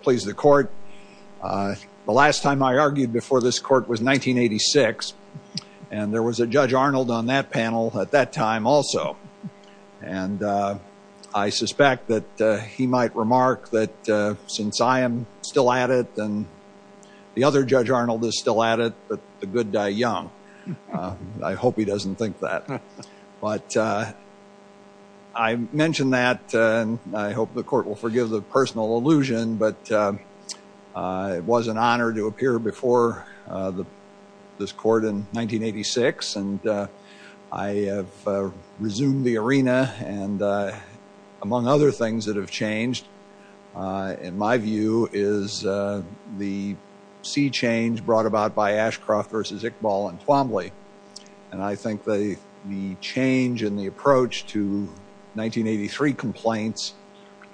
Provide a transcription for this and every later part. please the court uh the last time i argued before this court was 1986 and there was a judge Arnold on that panel at that time also and uh i suspect that he might remark that uh since i am still at it and the other judge Arnold is still at it but the good die young i hope he doesn't think that but uh i mentioned that and i hope the court will forgive the personal illusion but uh it was an honor to appear before uh the this court in 1986 and uh i have uh resumed the arena and uh among other things that have changed uh in my view is uh the sea change brought about by Ashcroft versus Iqbal and Twombly and i think they the change in the approach to 1983 complaints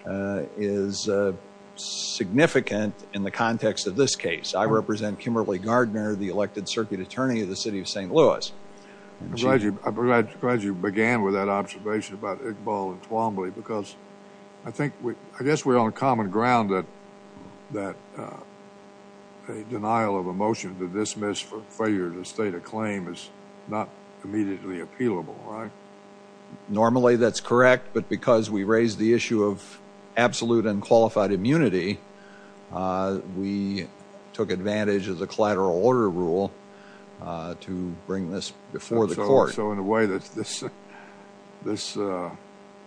uh is uh significant in the context of this case i represent Kimberly Gardner the elected circuit attorney of the city of St. Louis. I'm glad you began with that observation about Iqbal and Twombly because i think we i guess we're on common ground that that uh denial of a motion to dismiss for failure to state a claim is not immediately appealable right normally that's correct but because we raised the issue of absolute and qualified immunity uh we took advantage of the collateral order rule uh to bring this before the court so in a way that's this this uh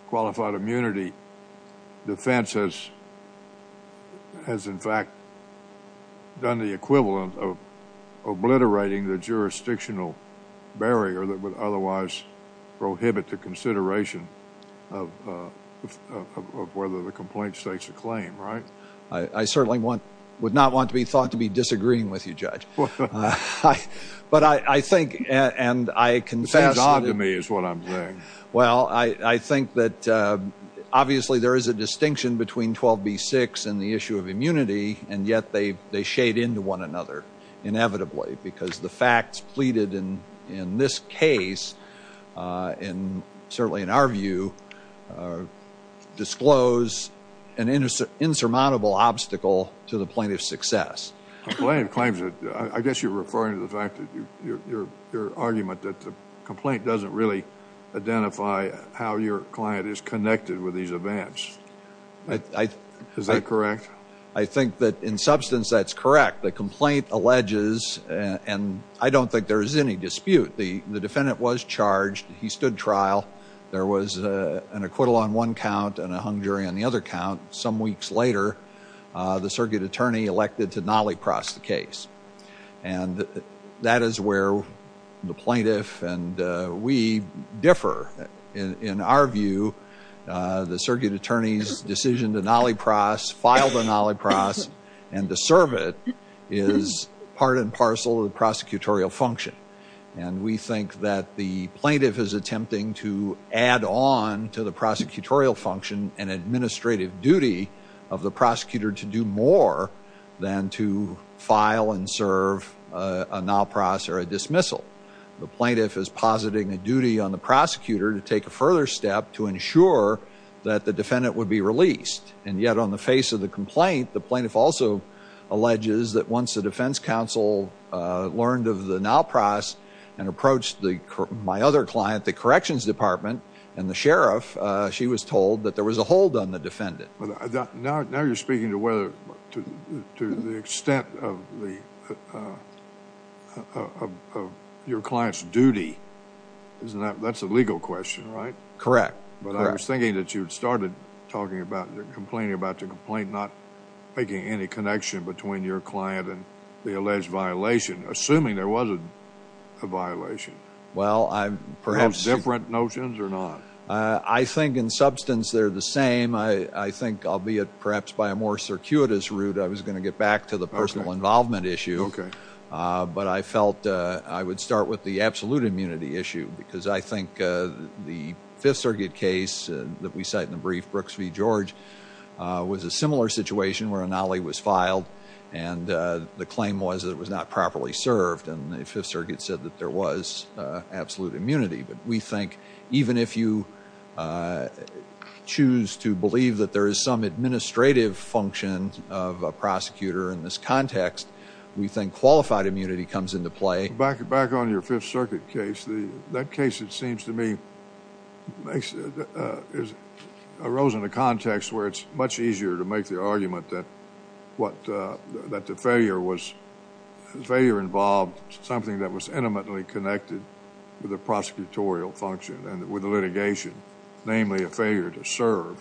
qualified immunity defense has has in fact done the equivalent of obliterating the jurisdictional barrier that would otherwise prohibit the consideration of uh of whether the complaint states a claim right i i certainly want would want to be thought to be disagreeing with you judge but i i think and i confess to me is what i'm saying well i i think that uh obviously there is a distinction between 12b6 and the issue of immunity and yet they they shade into one another inevitably because the facts pleaded in in this case uh in certainly in our view uh disclose an insurmountable obstacle to the plaintiff's success i guess you're referring to the fact that you your your argument that the complaint doesn't really identify how your client is connected with these events is that correct i think that in substance that's correct the complaint alleges and i don't think there's any dispute the the defendant was charged he stood trial there was a an acquittal on one count and a hung jury on the other count some weeks later uh the circuit attorney elected to nolly cross the case and that is where the plaintiff and uh we differ in in our view uh the circuit attorney's decision to nolly cross filed a nolly cross and to serve it is part and parcel of the prosecutorial function and we think that the plaintiff is attempting to add on to the prosecutorial function and administrative duty of the prosecutor to do more than to file and serve a no process or a dismissal the plaintiff is positing a duty on the prosecutor to take a further step to ensure that the defendant would be released and yet on face of the complaint the plaintiff also alleges that once the defense counsel uh learned of the now price and approached the my other client the corrections department and the sheriff uh she was told that there was a hold on the defendant but now now you're speaking to whether to to the extent of the uh of of your client's duty isn't that that's a legal question right correct but i was thinking that you started talking about you're complaining about the complaint not making any connection between your client and the alleged violation assuming there wasn't a violation well i'm perhaps different notions or not uh i think in substance they're the same i i think albeit perhaps by a more circuitous route i was going to get back to the personal involvement issue okay uh but i felt uh i would start with the absolute immunity issue because i think uh the fifth circuit case that we cite in the brief brooks v george uh was a similar situation where an ali was filed and uh the claim was that it was not properly served and the fifth circuit said that there was uh absolute immunity but we think even if you uh choose to believe that there is some administrative function of a prosecutor in this context we think qualified immunity comes into back back on your fifth circuit case the that case it seems to me makes it uh is arose in the context where it's much easier to make the argument that what uh that the failure was failure involved something that was intimately connected with the prosecutorial function and with the litigation namely a failure to serve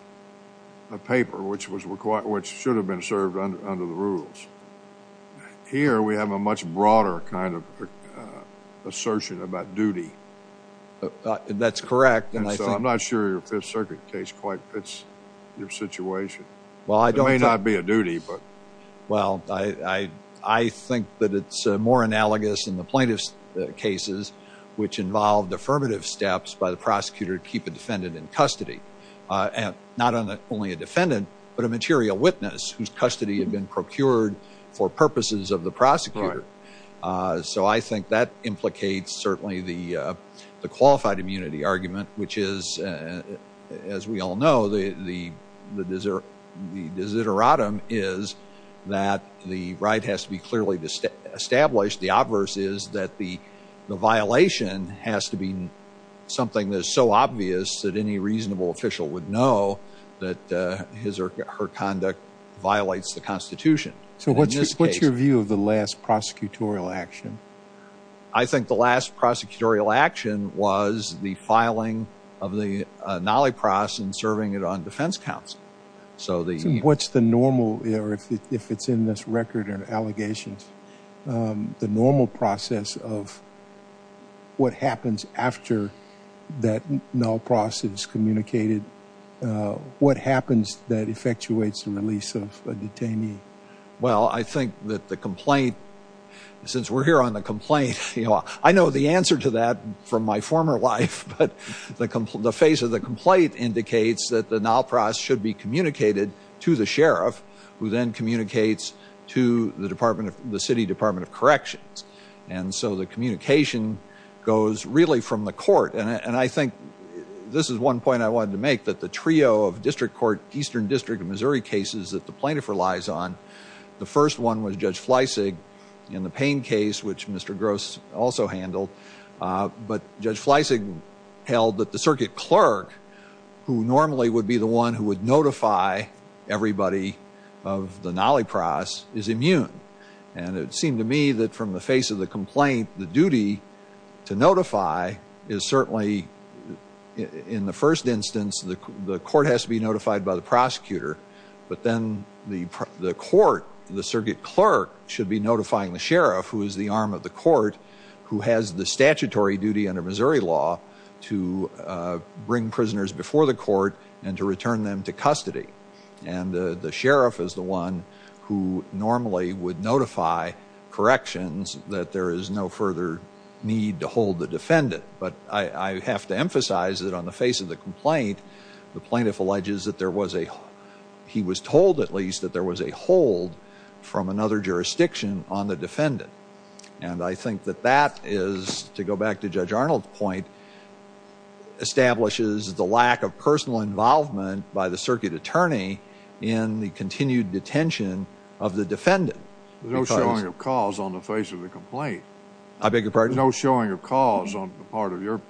a paper which was required which should have been served under the rules here we have a much broader kind of uh assertion about duty that's correct and i'm not sure your fifth circuit case quite fits your situation well i don't may not be a duty but well i i i think that it's more analogous in the plaintiff's cases which involved affirmative steps by the prosecutor to keep a defendant in custody uh and not only a defendant but a material witness whose custody had been procured for purposes of the prosecutor uh so i think that implicates certainly the uh the qualified immunity argument which is as we all know the the the desert the desideratum is that the right has to be clearly established the adverse is that the the violation has to be something that's so obvious that any reasonable official would know that uh his or her conduct violates the constitution so what's what's your view of the last prosecutorial action i think the last prosecutorial action was the filing of the uh nolly process and serving it on defense counsel so the what's the normal error if it's in this record and allegations um the normal process of what happens after that no process communicated uh what happens that effectuates the release of a detainee well i think that the complaint since we're here on the complaint you know i know the answer to that from my former life but the the face of the complaint indicates that the now process should be communicated to the sheriff who then communicates to the department of the city department of corrections and so the district court eastern district of missouri cases that the plaintiff relies on the first one was judge fleisig in the pain case which mr gross also handled uh but judge fleisig held that the circuit clerk who normally would be the one who would notify everybody of the nolly process is immune and it seemed to me that from the face of the complaint the duty to notify is certainly in the first instance the the court has to be notified by the prosecutor but then the the court the circuit clerk should be notifying the sheriff who is the arm of the court who has the statutory duty under missouri law to bring prisoners before the court and to return them to custody and the the sheriff is the one who normally would notify corrections that there is no further need to hold the defendant but i i have to emphasize that on the face of the complaint the plaintiff alleges that there was a he was told at least that there was a hold from another jurisdiction on the defendant and i think that that is to go back to judge arnold's point establishes the lack of personal involvement by the circuit attorney in the i beg your pardon no showing of cause on the part of your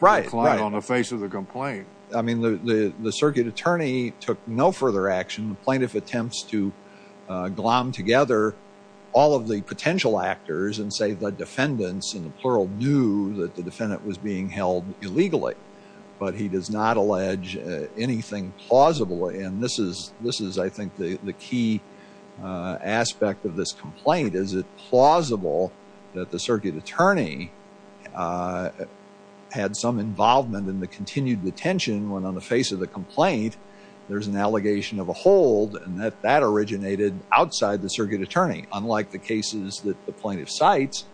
right on the face of the complaint i mean the the circuit attorney took no further action the plaintiff attempts to uh glom together all of the potential actors and say the defendants in the plural knew that the defendant was being held illegally but he does not allege anything plausible and this is this is i think the the key aspect of this complaint is it plausible that the circuit attorney had some involvement in the continued detention when on the face of the complaint there's an allegation of a hold and that that originated outside the circuit attorney unlike the cases that the plaintiff cites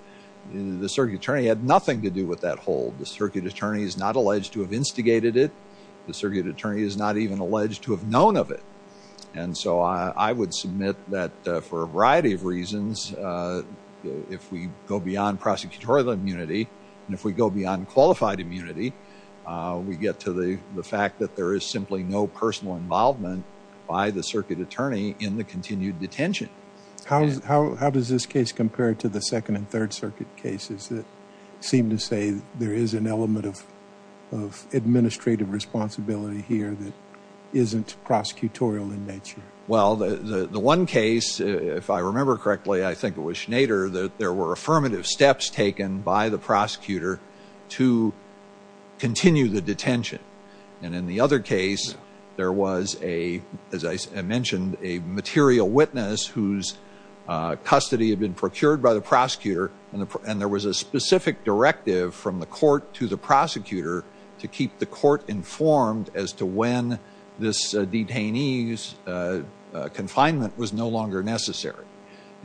the circuit attorney had nothing to do with that hold the circuit attorney is not alleged to have instigated it the circuit attorney is not even alleged to have known of it and so i i would submit that for a variety of reasons uh if we go beyond prosecutorial immunity and if we go beyond qualified immunity uh we get to the the fact that there is simply no personal involvement by the circuit attorney in the continued detention how how how does this case compare to the second and third circuit cases that seem to say there is an element of of administrative responsibility here that isn't prosecutorial in nature well the the one case if i remember correctly i think it was schneider that there were affirmative steps taken by the prosecutor to continue the detention and in the other case there was a as i mentioned a material witness whose uh custody had been procured by the from the court to the prosecutor to keep the court informed as to when this detainee's uh confinement was no longer necessary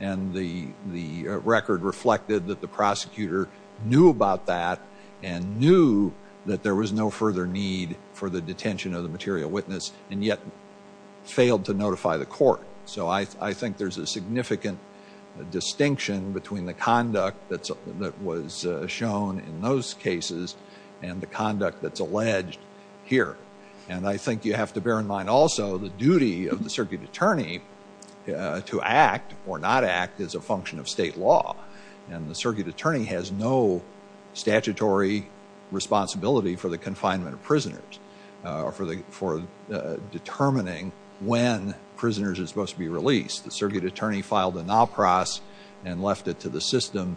and the the record reflected that the prosecutor knew about that and knew that there was no further need for the detention of the material witness and yet failed to notify the court so i i think there's a significant distinction between the in those cases and the conduct that's alleged here and i think you have to bear in mind also the duty of the circuit attorney to act or not act as a function of state law and the circuit attorney has no statutory responsibility for the confinement of prisoners uh for the for uh determining when prisoners are supposed to be released the circuit attorney filed a now process and left it to the system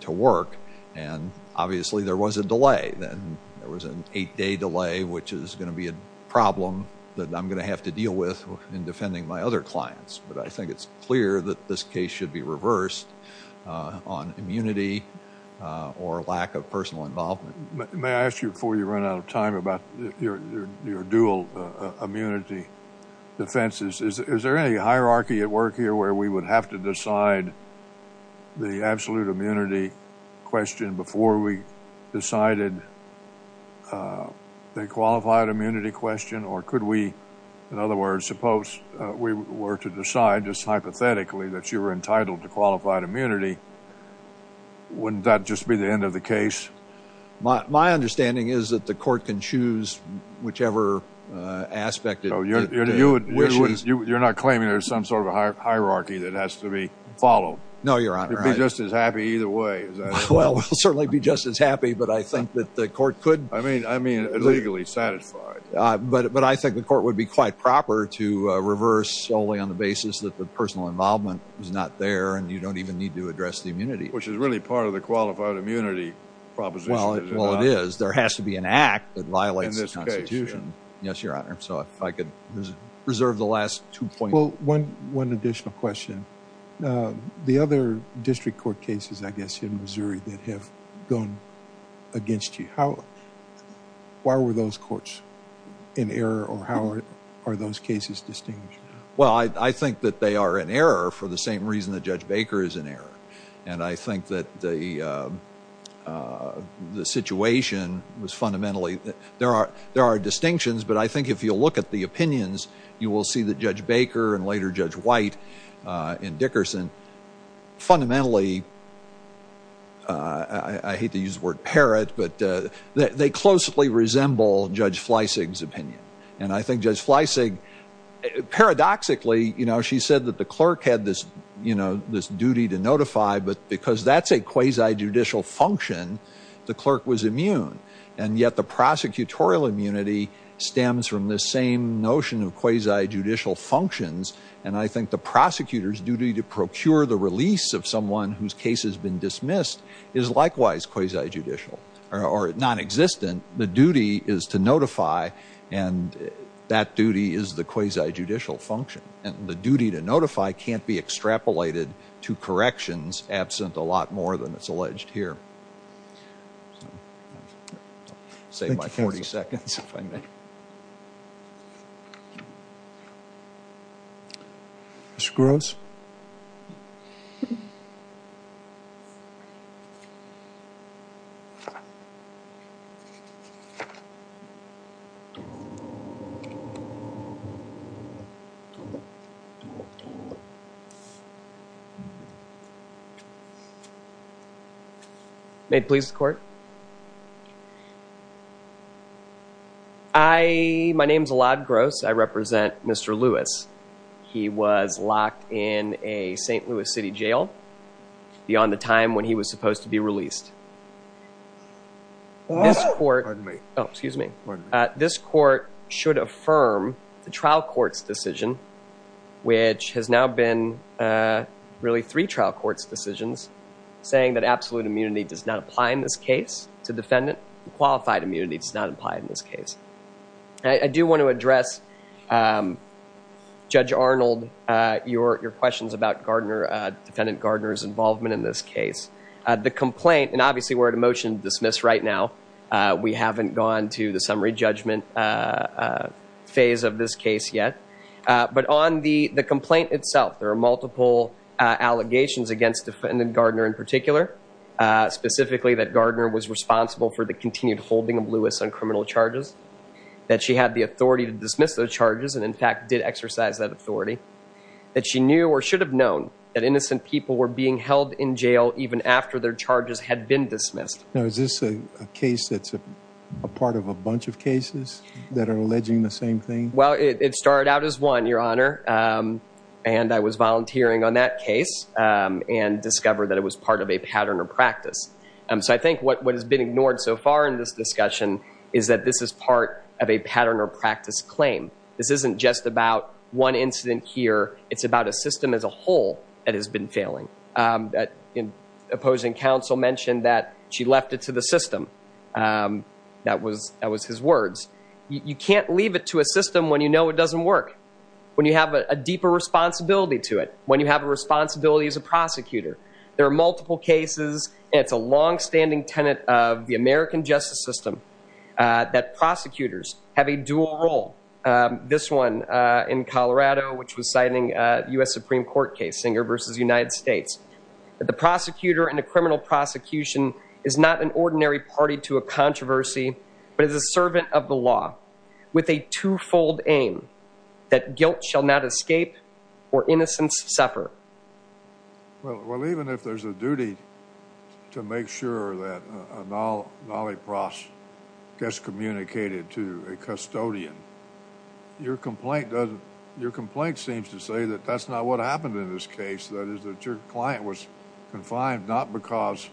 to work and obviously there was a delay then there was an eight-day delay which is going to be a problem that i'm going to have to deal with in defending my other clients but i think it's clear that this case should be reversed on immunity or lack of personal involvement may i ask you before you run out of time about your your dual immunity defenses is is there any hierarchy at work here where we would have to decide the absolute immunity question before we decided uh the qualified immunity question or could we in other words suppose we were to decide just hypothetically that you were entitled to qualified immunity wouldn't that just be the end of the case my my understanding is that the court can choose whichever uh aspect of your you're not claiming there's some sort of a hierarchy that has to be followed no your honor you'll be just as happy either way well we'll certainly be just as happy but i think that the court could i mean i mean legally satisfied uh but but i think the court would be quite proper to uh reverse solely on the basis that the personal involvement is not there and you don't even need to address the immunity which is really part of the qualified immunity proposition well it is there has to be an act that violates the constitution yes your honor so if i could reserve the last two point well one one additional question uh the other district court cases i guess in missouri that have gone against you how why were those courts in error or how are those cases distinguished well i i think that they are in error for the uh the situation was fundamentally there are there are distinctions but i think if you look at the opinions you will see that judge baker and later judge white uh in dickerson fundamentally uh i hate to use the word parrot but uh they closely resemble judge fleissig's opinion and i think judge fleissig paradoxically you know she said that the clerk had this you know this duty to notify but because that's a quasi judicial function the clerk was immune and yet the prosecutorial immunity stems from this same notion of quasi judicial functions and i think the prosecutor's duty to procure the release of someone whose case has been dismissed is likewise quasi judicial or non-existent the duty is to notify and that duty is the quasi to corrections absent a lot more than it's alleged here save my 40 seconds if i may mr gross um may it please the court i my name is allad gross i represent mr lewis he was locked in a st louis city jail beyond the time when he was supposed to be released this court pardon me oh excuse me this court should affirm the trial court's decision which has now been uh really three trial court's decisions saying that absolute immunity does not apply in this case to defendant qualified immunity does not apply in this case i do want to address um judge arnold uh your your questions about gardner uh defendant gardner's involvement in this case uh the complaint and obviously we're at a motion to dismiss right now uh we haven't gone to the summary judgment uh phase of this case yet uh but on the the complaint itself there are multiple uh allegations against defendant gardner in particular uh specifically that gardner was responsible for the continued holding of lewis on criminal charges that she had the authority to dismiss those charges and in fact did exercise that authority that she knew or should have known that innocent people were being held in jail even after their charges had been dismissed now is this a case that's a part of a bunch of cases that are alleging the same thing well it started out as one your honor um and i was volunteering on that case um and discovered that it was part of a pattern or practice um so i think what has been ignored so far in this discussion is that this is part of a pattern or practice claim this isn't just about one incident here it's about a system as a whole that has been failing um that in opposing counsel mentioned that she left it to the system um that was that was his words you can't leave it to a system when you know it doesn't work when you have a deeper responsibility to it when you have a responsibility as a prosecutor there are multiple cases it's a long-standing tenet of the american justice system uh that prosecutors have a dual role um this one uh in colorado which was citing uh u.s supreme court case singer versus united states that the prosecutor in a criminal prosecution is not an ordinary party to a controversy but is a servant of the law with a two-fold aim that guilt shall not escape or innocence suffer well well even if there's a duty to make sure that a nolipros gets communicated to a custodian your complaint doesn't your complaint seems to say that that's not what happened in this case that is that your client was confined not because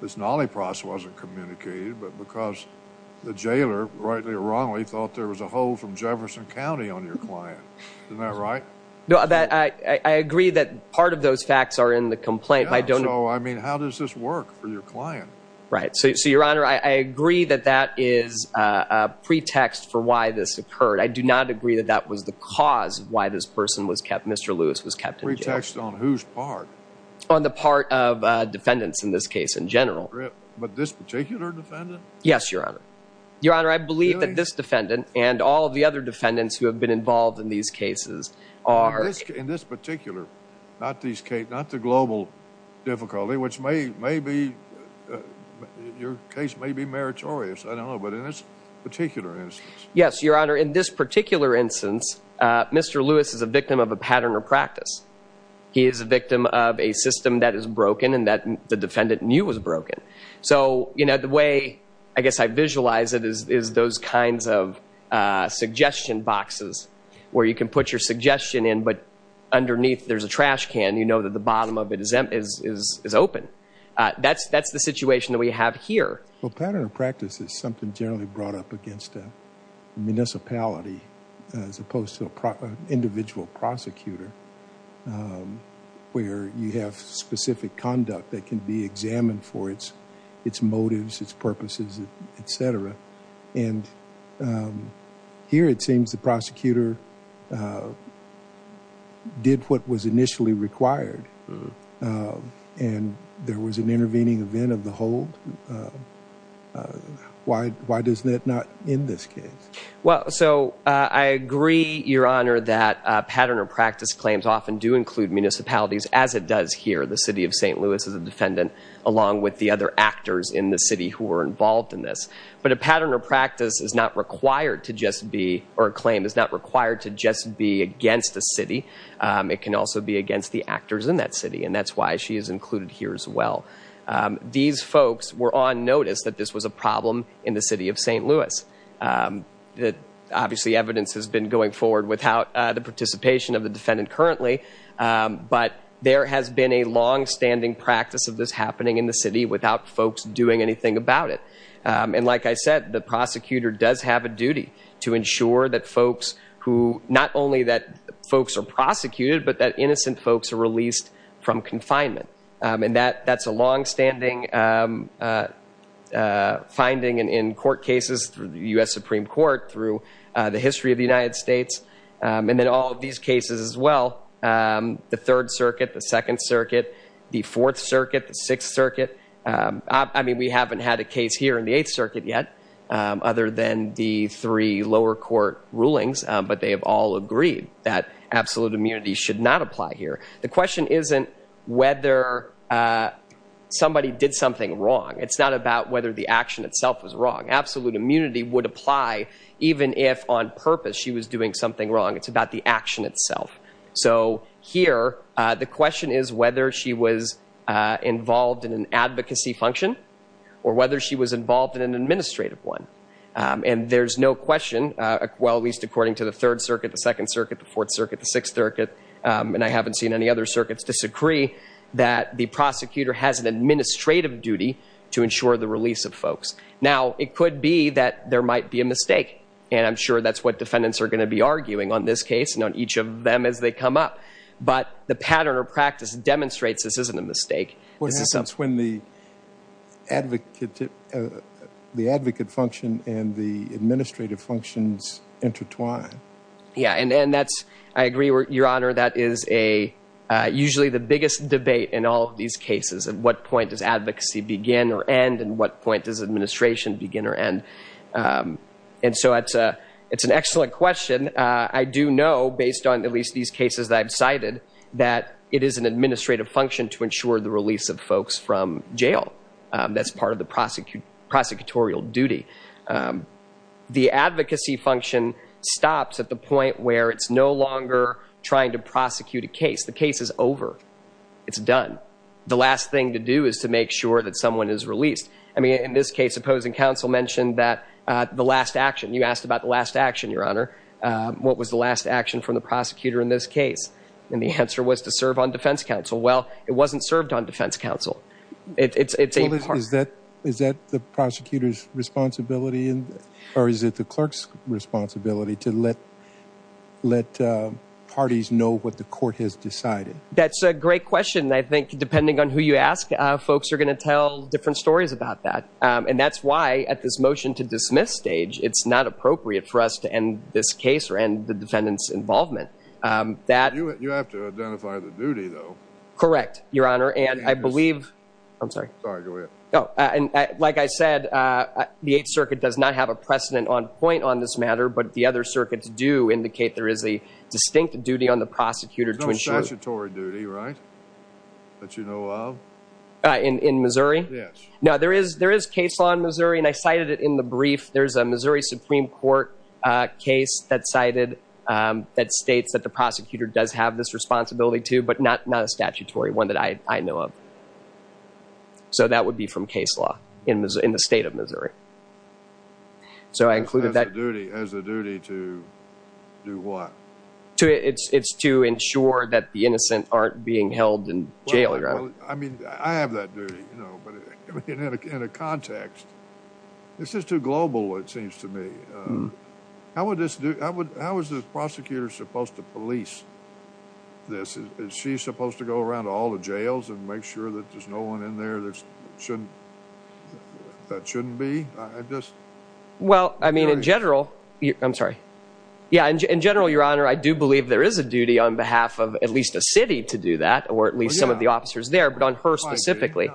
this nolipros wasn't communicated but because the jailer rightly or wrongly thought there was a hole from jefferson county on your client isn't that right no that i agree that part of those facts are in the complaint i don't know i mean how does this work for your client right so your honor i agree that that is uh a pretext for why this occurred i do not agree that that was the cause of why this person was kept mr lewis was kept in retext on whose part on the part of uh defendants in this case in general but this particular defendant yes your honor your honor i believe that this defendant and all the other defendants who have involved in these cases are in this particular not these case not the global difficulty which may maybe your case may be meritorious i don't know but in this particular instance yes your honor in this particular instance uh mr lewis is a victim of a pattern or practice he is a victim of a system that is broken and that the defendant knew was broken so you know the way i guess i is is those kinds of uh suggestion boxes where you can put your suggestion in but underneath there's a trash can you know that the bottom of it is is is open uh that's that's the situation that we have here well pattern of practice is something generally brought up against a municipality as opposed to a proper individual prosecutor where you have specific conduct that can be examined for its its motives its purposes etc and um here it seems the prosecutor did what was initially required and there was an intervening event of the hold why why does that not in this case well so i agree your honor that uh pattern or practice claims often do include municipalities as it does here the city of st louis is a defendant along with the other actors in the city who were involved in this but a pattern or practice is not required to just be or a claim is not required to just be against the city it can also be against the actors in that city and that's why she is included here as well these folks were on notice that this was a problem in the city of st louis that obviously evidence has been going forward without the participation of the defendant currently but there has been a long-standing practice of this happening in the city without folks doing anything about it and like i said the prosecutor does have a duty to ensure that folks who not only that folks are prosecuted but that innocent folks are released from confinement and that that's a long-standing finding and in through uh the history of the united states um and then all of these cases as well um the third circuit the second circuit the fourth circuit the sixth circuit um i mean we haven't had a case here in the eighth circuit yet um other than the three lower court rulings but they have all agreed that absolute immunity should not apply here the question isn't whether uh somebody did something wrong it's not about whether the action itself was wrong absolute immunity would apply even if on purpose she was doing something wrong it's about the action itself so here uh the question is whether she was uh involved in an advocacy function or whether she was involved in an administrative one um and there's no question uh well at least according to the third circuit the second circuit the fourth circuit the sixth circuit um and i haven't seen any other circuits disagree that the prosecutor has an administrative duty to ensure the release of folks now it could be that there might be a mistake and i'm sure that's what defendants are going to be arguing on this case and on each of them as they come up but the pattern or practice demonstrates this isn't a mistake what happens when the advocate the advocate function and the administrative functions intertwine yeah and then that's i agree your honor that is a uh usually the biggest debate in all of these cases at what point does advocacy begin or end and what point does administration begin or end um and so it's a it's an excellent question uh i do know based on at least these cases that i've cited that it is an administrative function to ensure the release of folks from that's part of the prosecute prosecutorial duty um the advocacy function stops at the point where it's no longer trying to prosecute a case the case is over it's done the last thing to do is to make sure that someone is released i mean in this case opposing counsel mentioned that uh the last action you asked about the last action your honor uh what was the last action from the prosecutor in this case and the answer was to serve on defense counsel well it wasn't served on defense counsel it's it's a part is that is that the prosecutor's responsibility in or is it the clerk's responsibility to let let uh parties know what the court has decided that's a great question i think depending on who you ask uh folks are going to tell different stories about that um and that's why at this motion to dismiss stage it's not appropriate for us to end this case or end the defendant's involvement um that you have to identify the duty though correct your honor and i believe i'm sorry sorry go ahead oh and like i said uh the eighth circuit does not have a precedent on point on this matter but the other circuits do indicate there is a distinct duty on the prosecutor to ensure statutory duty right that you know of uh in in missouri yes no there is there is case law in missouri and i cited it in the brief there's a missouri supreme court uh case that cited um that states that the prosecutor does have this responsibility too but not not a statutory one that i i know of so that would be from case law in the state of missouri so i included that duty as a duty to do what to it's it's to ensure that the innocent aren't being held in jail i mean i have that duty you know but in a context this is too global it seems um how would this do i would how is this prosecutor supposed to police this is she supposed to go around all the jails and make sure that there's no one in there that's shouldn't that shouldn't be i just well i mean in general i'm sorry yeah in general your honor i do believe there is a duty on behalf of at least a city to do that or at least some of the officers there but on her specifically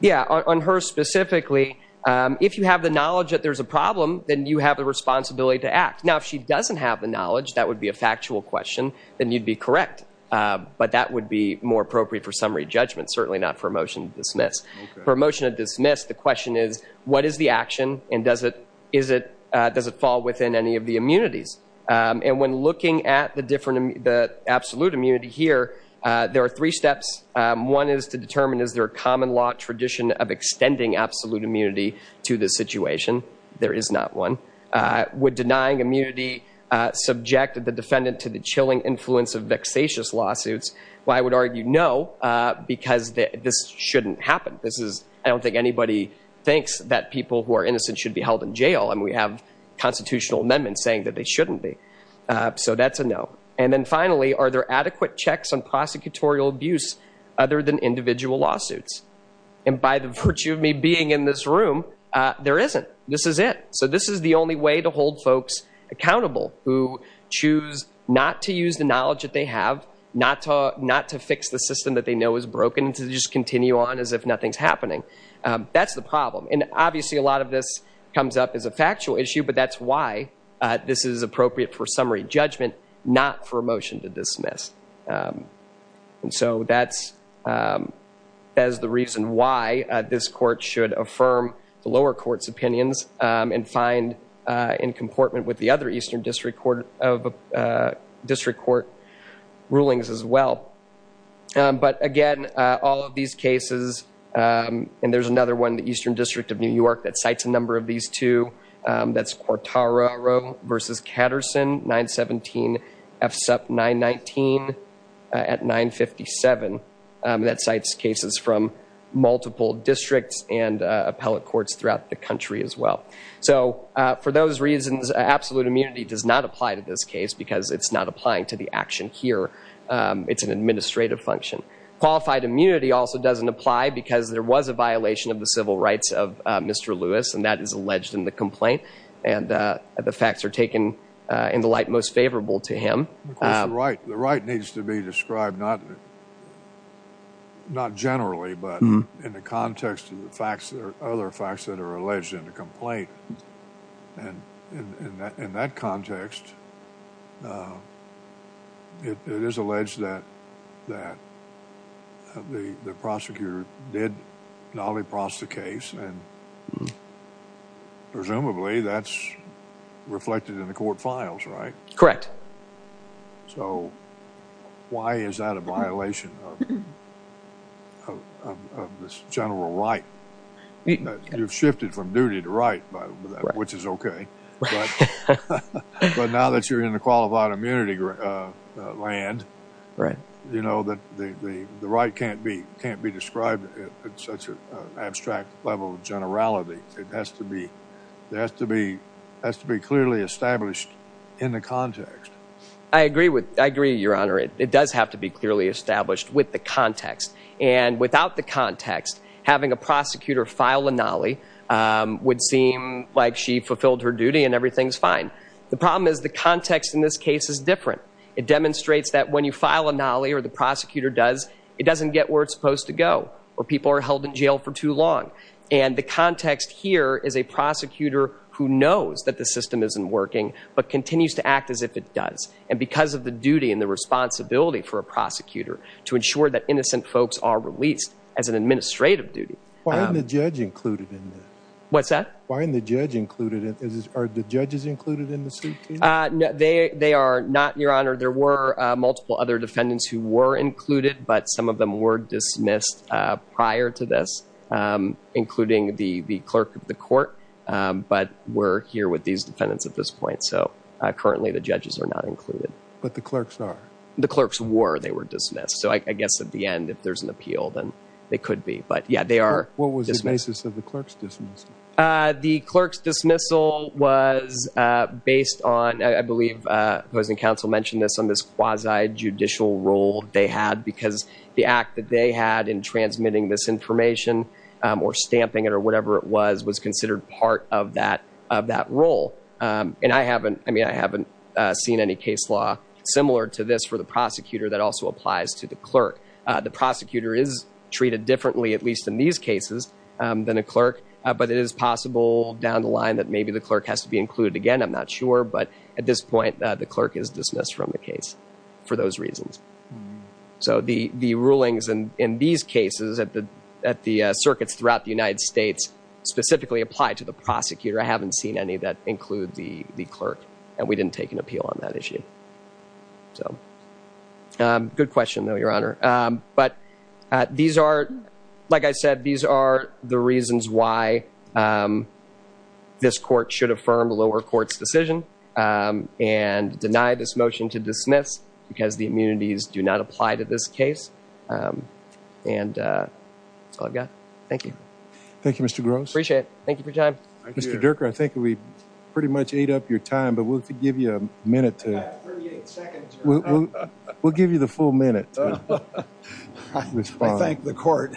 yeah on her specifically um if you have the knowledge that there's a problem then you have the responsibility to act now if she doesn't have the knowledge that would be a factual question then you'd be correct uh but that would be more appropriate for summary judgment certainly not for a motion to dismiss for a motion to dismiss the question is what is the action and does it is it uh does it fall within any of the immunities um and when looking at the different the absolute immunity here uh there are three steps um one is to determine is there a common law tradition of extending absolute immunity to this situation there is not one uh would denying immunity uh subject the defendant to the chilling influence of vexatious lawsuits well i would argue no uh because this shouldn't happen this is i don't think anybody thinks that people who are innocent should be held in jail and we have constitutional amendments saying that they shouldn't be so that's a no and then finally are there adequate checks on prosecutorial abuse other than individual lawsuits and by the virtue of me being in this room uh there isn't this is it so this is the only way to hold folks accountable who choose not to use the knowledge that they have not to not to fix the system that they know is broken to just continue on as if nothing's happening um that's the problem and obviously a lot of this comes up as a factual issue but that's this is appropriate for summary judgment not for a motion to dismiss um and so that's um as the reason why this court should affirm the lower court's opinions um and find uh in comportment with the other eastern district court of uh district court rulings as well but again uh all of these cases um and there's another one the eastern district of new york that cites a number of these two um that's quartaro versus katterson 917 f sup 919 at 957 that cites cases from multiple districts and appellate courts throughout the country as well so for those reasons absolute immunity does not apply to this case because it's not applying to the action here it's an administrative function qualified immunity also doesn't apply because there was a violation of the civil rights of mr lewis and that is alleged in the complaint and uh the facts are taken uh in the light most favorable to him right the right needs to be described not not generally but in the context of the facts there are other facts that are alleged in the complaint and in that in that context uh it is alleged that that the the prosecutor did nolly pross the case and presumably that's reflected in the court files right correct so why is that a violation of of this general right you've shifted from duty to right by which is okay but now that you're in the qualified immunity uh land right you know that the the right can't be can't be described at such an abstract level of generality it has to be there has to be has to be clearly established in the context i agree with i agree your honor it does have to be clearly established with the context and without the context having a prosecutor file a nolly um would seem like she fulfilled her duty and everything's fine the problem is the context in this case is different it demonstrates that when you file a nolly or the prosecutor does it doesn't get where it's supposed to go or people are held in jail for too long and the context here is a prosecutor who knows that the system isn't working but continues to to ensure that innocent folks are released as an administrative duty why isn't the judge included in this what's that why isn't the judge included in this is are the judges included in the suit uh no they they are not your honor there were uh multiple other defendants who were included but some of them were dismissed uh prior to this um including the the clerk of the court um but we're here with these defendants at this point so uh currently the judges are not included but the i guess at the end if there's an appeal then they could be but yeah they are what was the basis of the clerk's dismissal uh the clerk's dismissal was uh based on i believe uh opposing counsel mentioned this on this quasi judicial role they had because the act that they had in transmitting this information um or stamping it or whatever it was was considered part of that of that role um and i haven't i mean i haven't uh seen any case law similar to this for the clerk uh the prosecutor is treated differently at least in these cases um than a clerk but it is possible down the line that maybe the clerk has to be included again i'm not sure but at this point the clerk is dismissed from the case for those reasons so the the rulings and in these cases at the at the uh circuits throughout the united states specifically apply to the prosecutor i haven't seen any that include the the clerk and we didn't take an appeal on that issue so um good question though your honor um but uh these are like i said these are the reasons why um this court should affirm lower court's decision um and deny this motion to dismiss because the immunities do not apply to this case um and uh that's all i've got thank you thank you mr gross appreciate it thank you for your time mr durker i think we pretty much ate up your time but we'll give you a minute to 38 seconds we'll give you the full minute i thank the court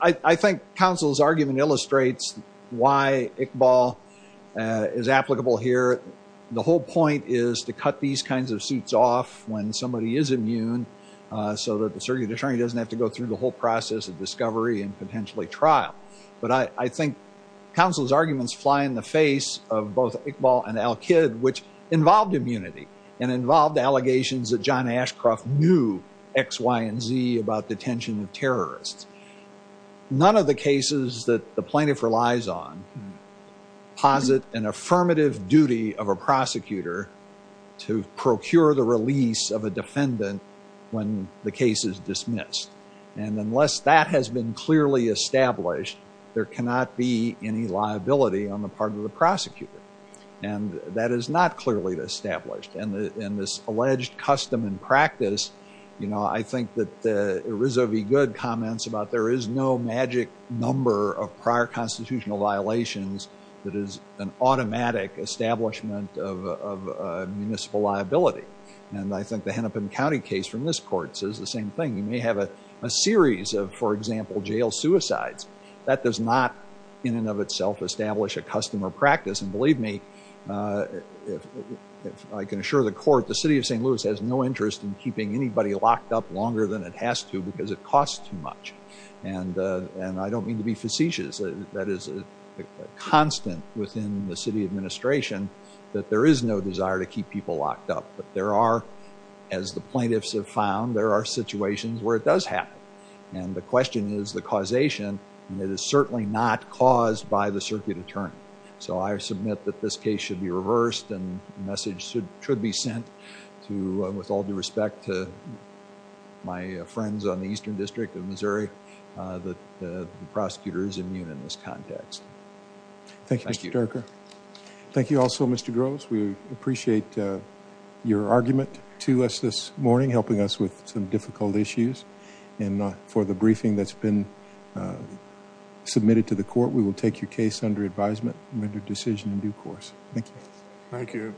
i i think counsel's argument illustrates why iqbal uh is applicable here the whole point is to cut these kinds of suits off when somebody is immune uh so that the circuit attorney doesn't have to go through the whole process of discovery and potentially trial but i i think counsel's arguments fly in the face of both iqbal and al kidd which involved immunity and involved allegations that john ashcroft knew x y and z about detention of terrorists none of the cases that the plaintiff relies on posit an affirmative duty of a prosecutor to procure the release of a defendant when the case is dismissed and unless that has been clearly established there cannot be any liability on the part of the prosecutor and that is not clearly established and in this alleged custom and practice you know i think that the erizo v good comments about there is no magic number of prior constitutional violations that is an automatic establishment of municipal liability and i think the hennepin county case from this court says the a series of for example jail suicides that does not in and of itself establish a customer practice and believe me uh if i can assure the court the city of st louis has no interest in keeping anybody locked up longer than it has to because it costs too much and uh and i don't mean to be facetious that is a constant within the city administration that there is no desire to keep people locked up but there are as the plaintiffs have found there are situations where it does happen and the question is the causation and it is certainly not caused by the circuit attorney so i submit that this case should be reversed and message should be sent to with all due respect to my friends on the eastern district of missouri that the prosecutor is immune in this context thank you thank you also mr gross we appreciate uh your argument to us this morning helping us with some difficult issues and for the briefing that's been uh submitted to the court we will take your case under advisement and make a decision in due course thank you thank you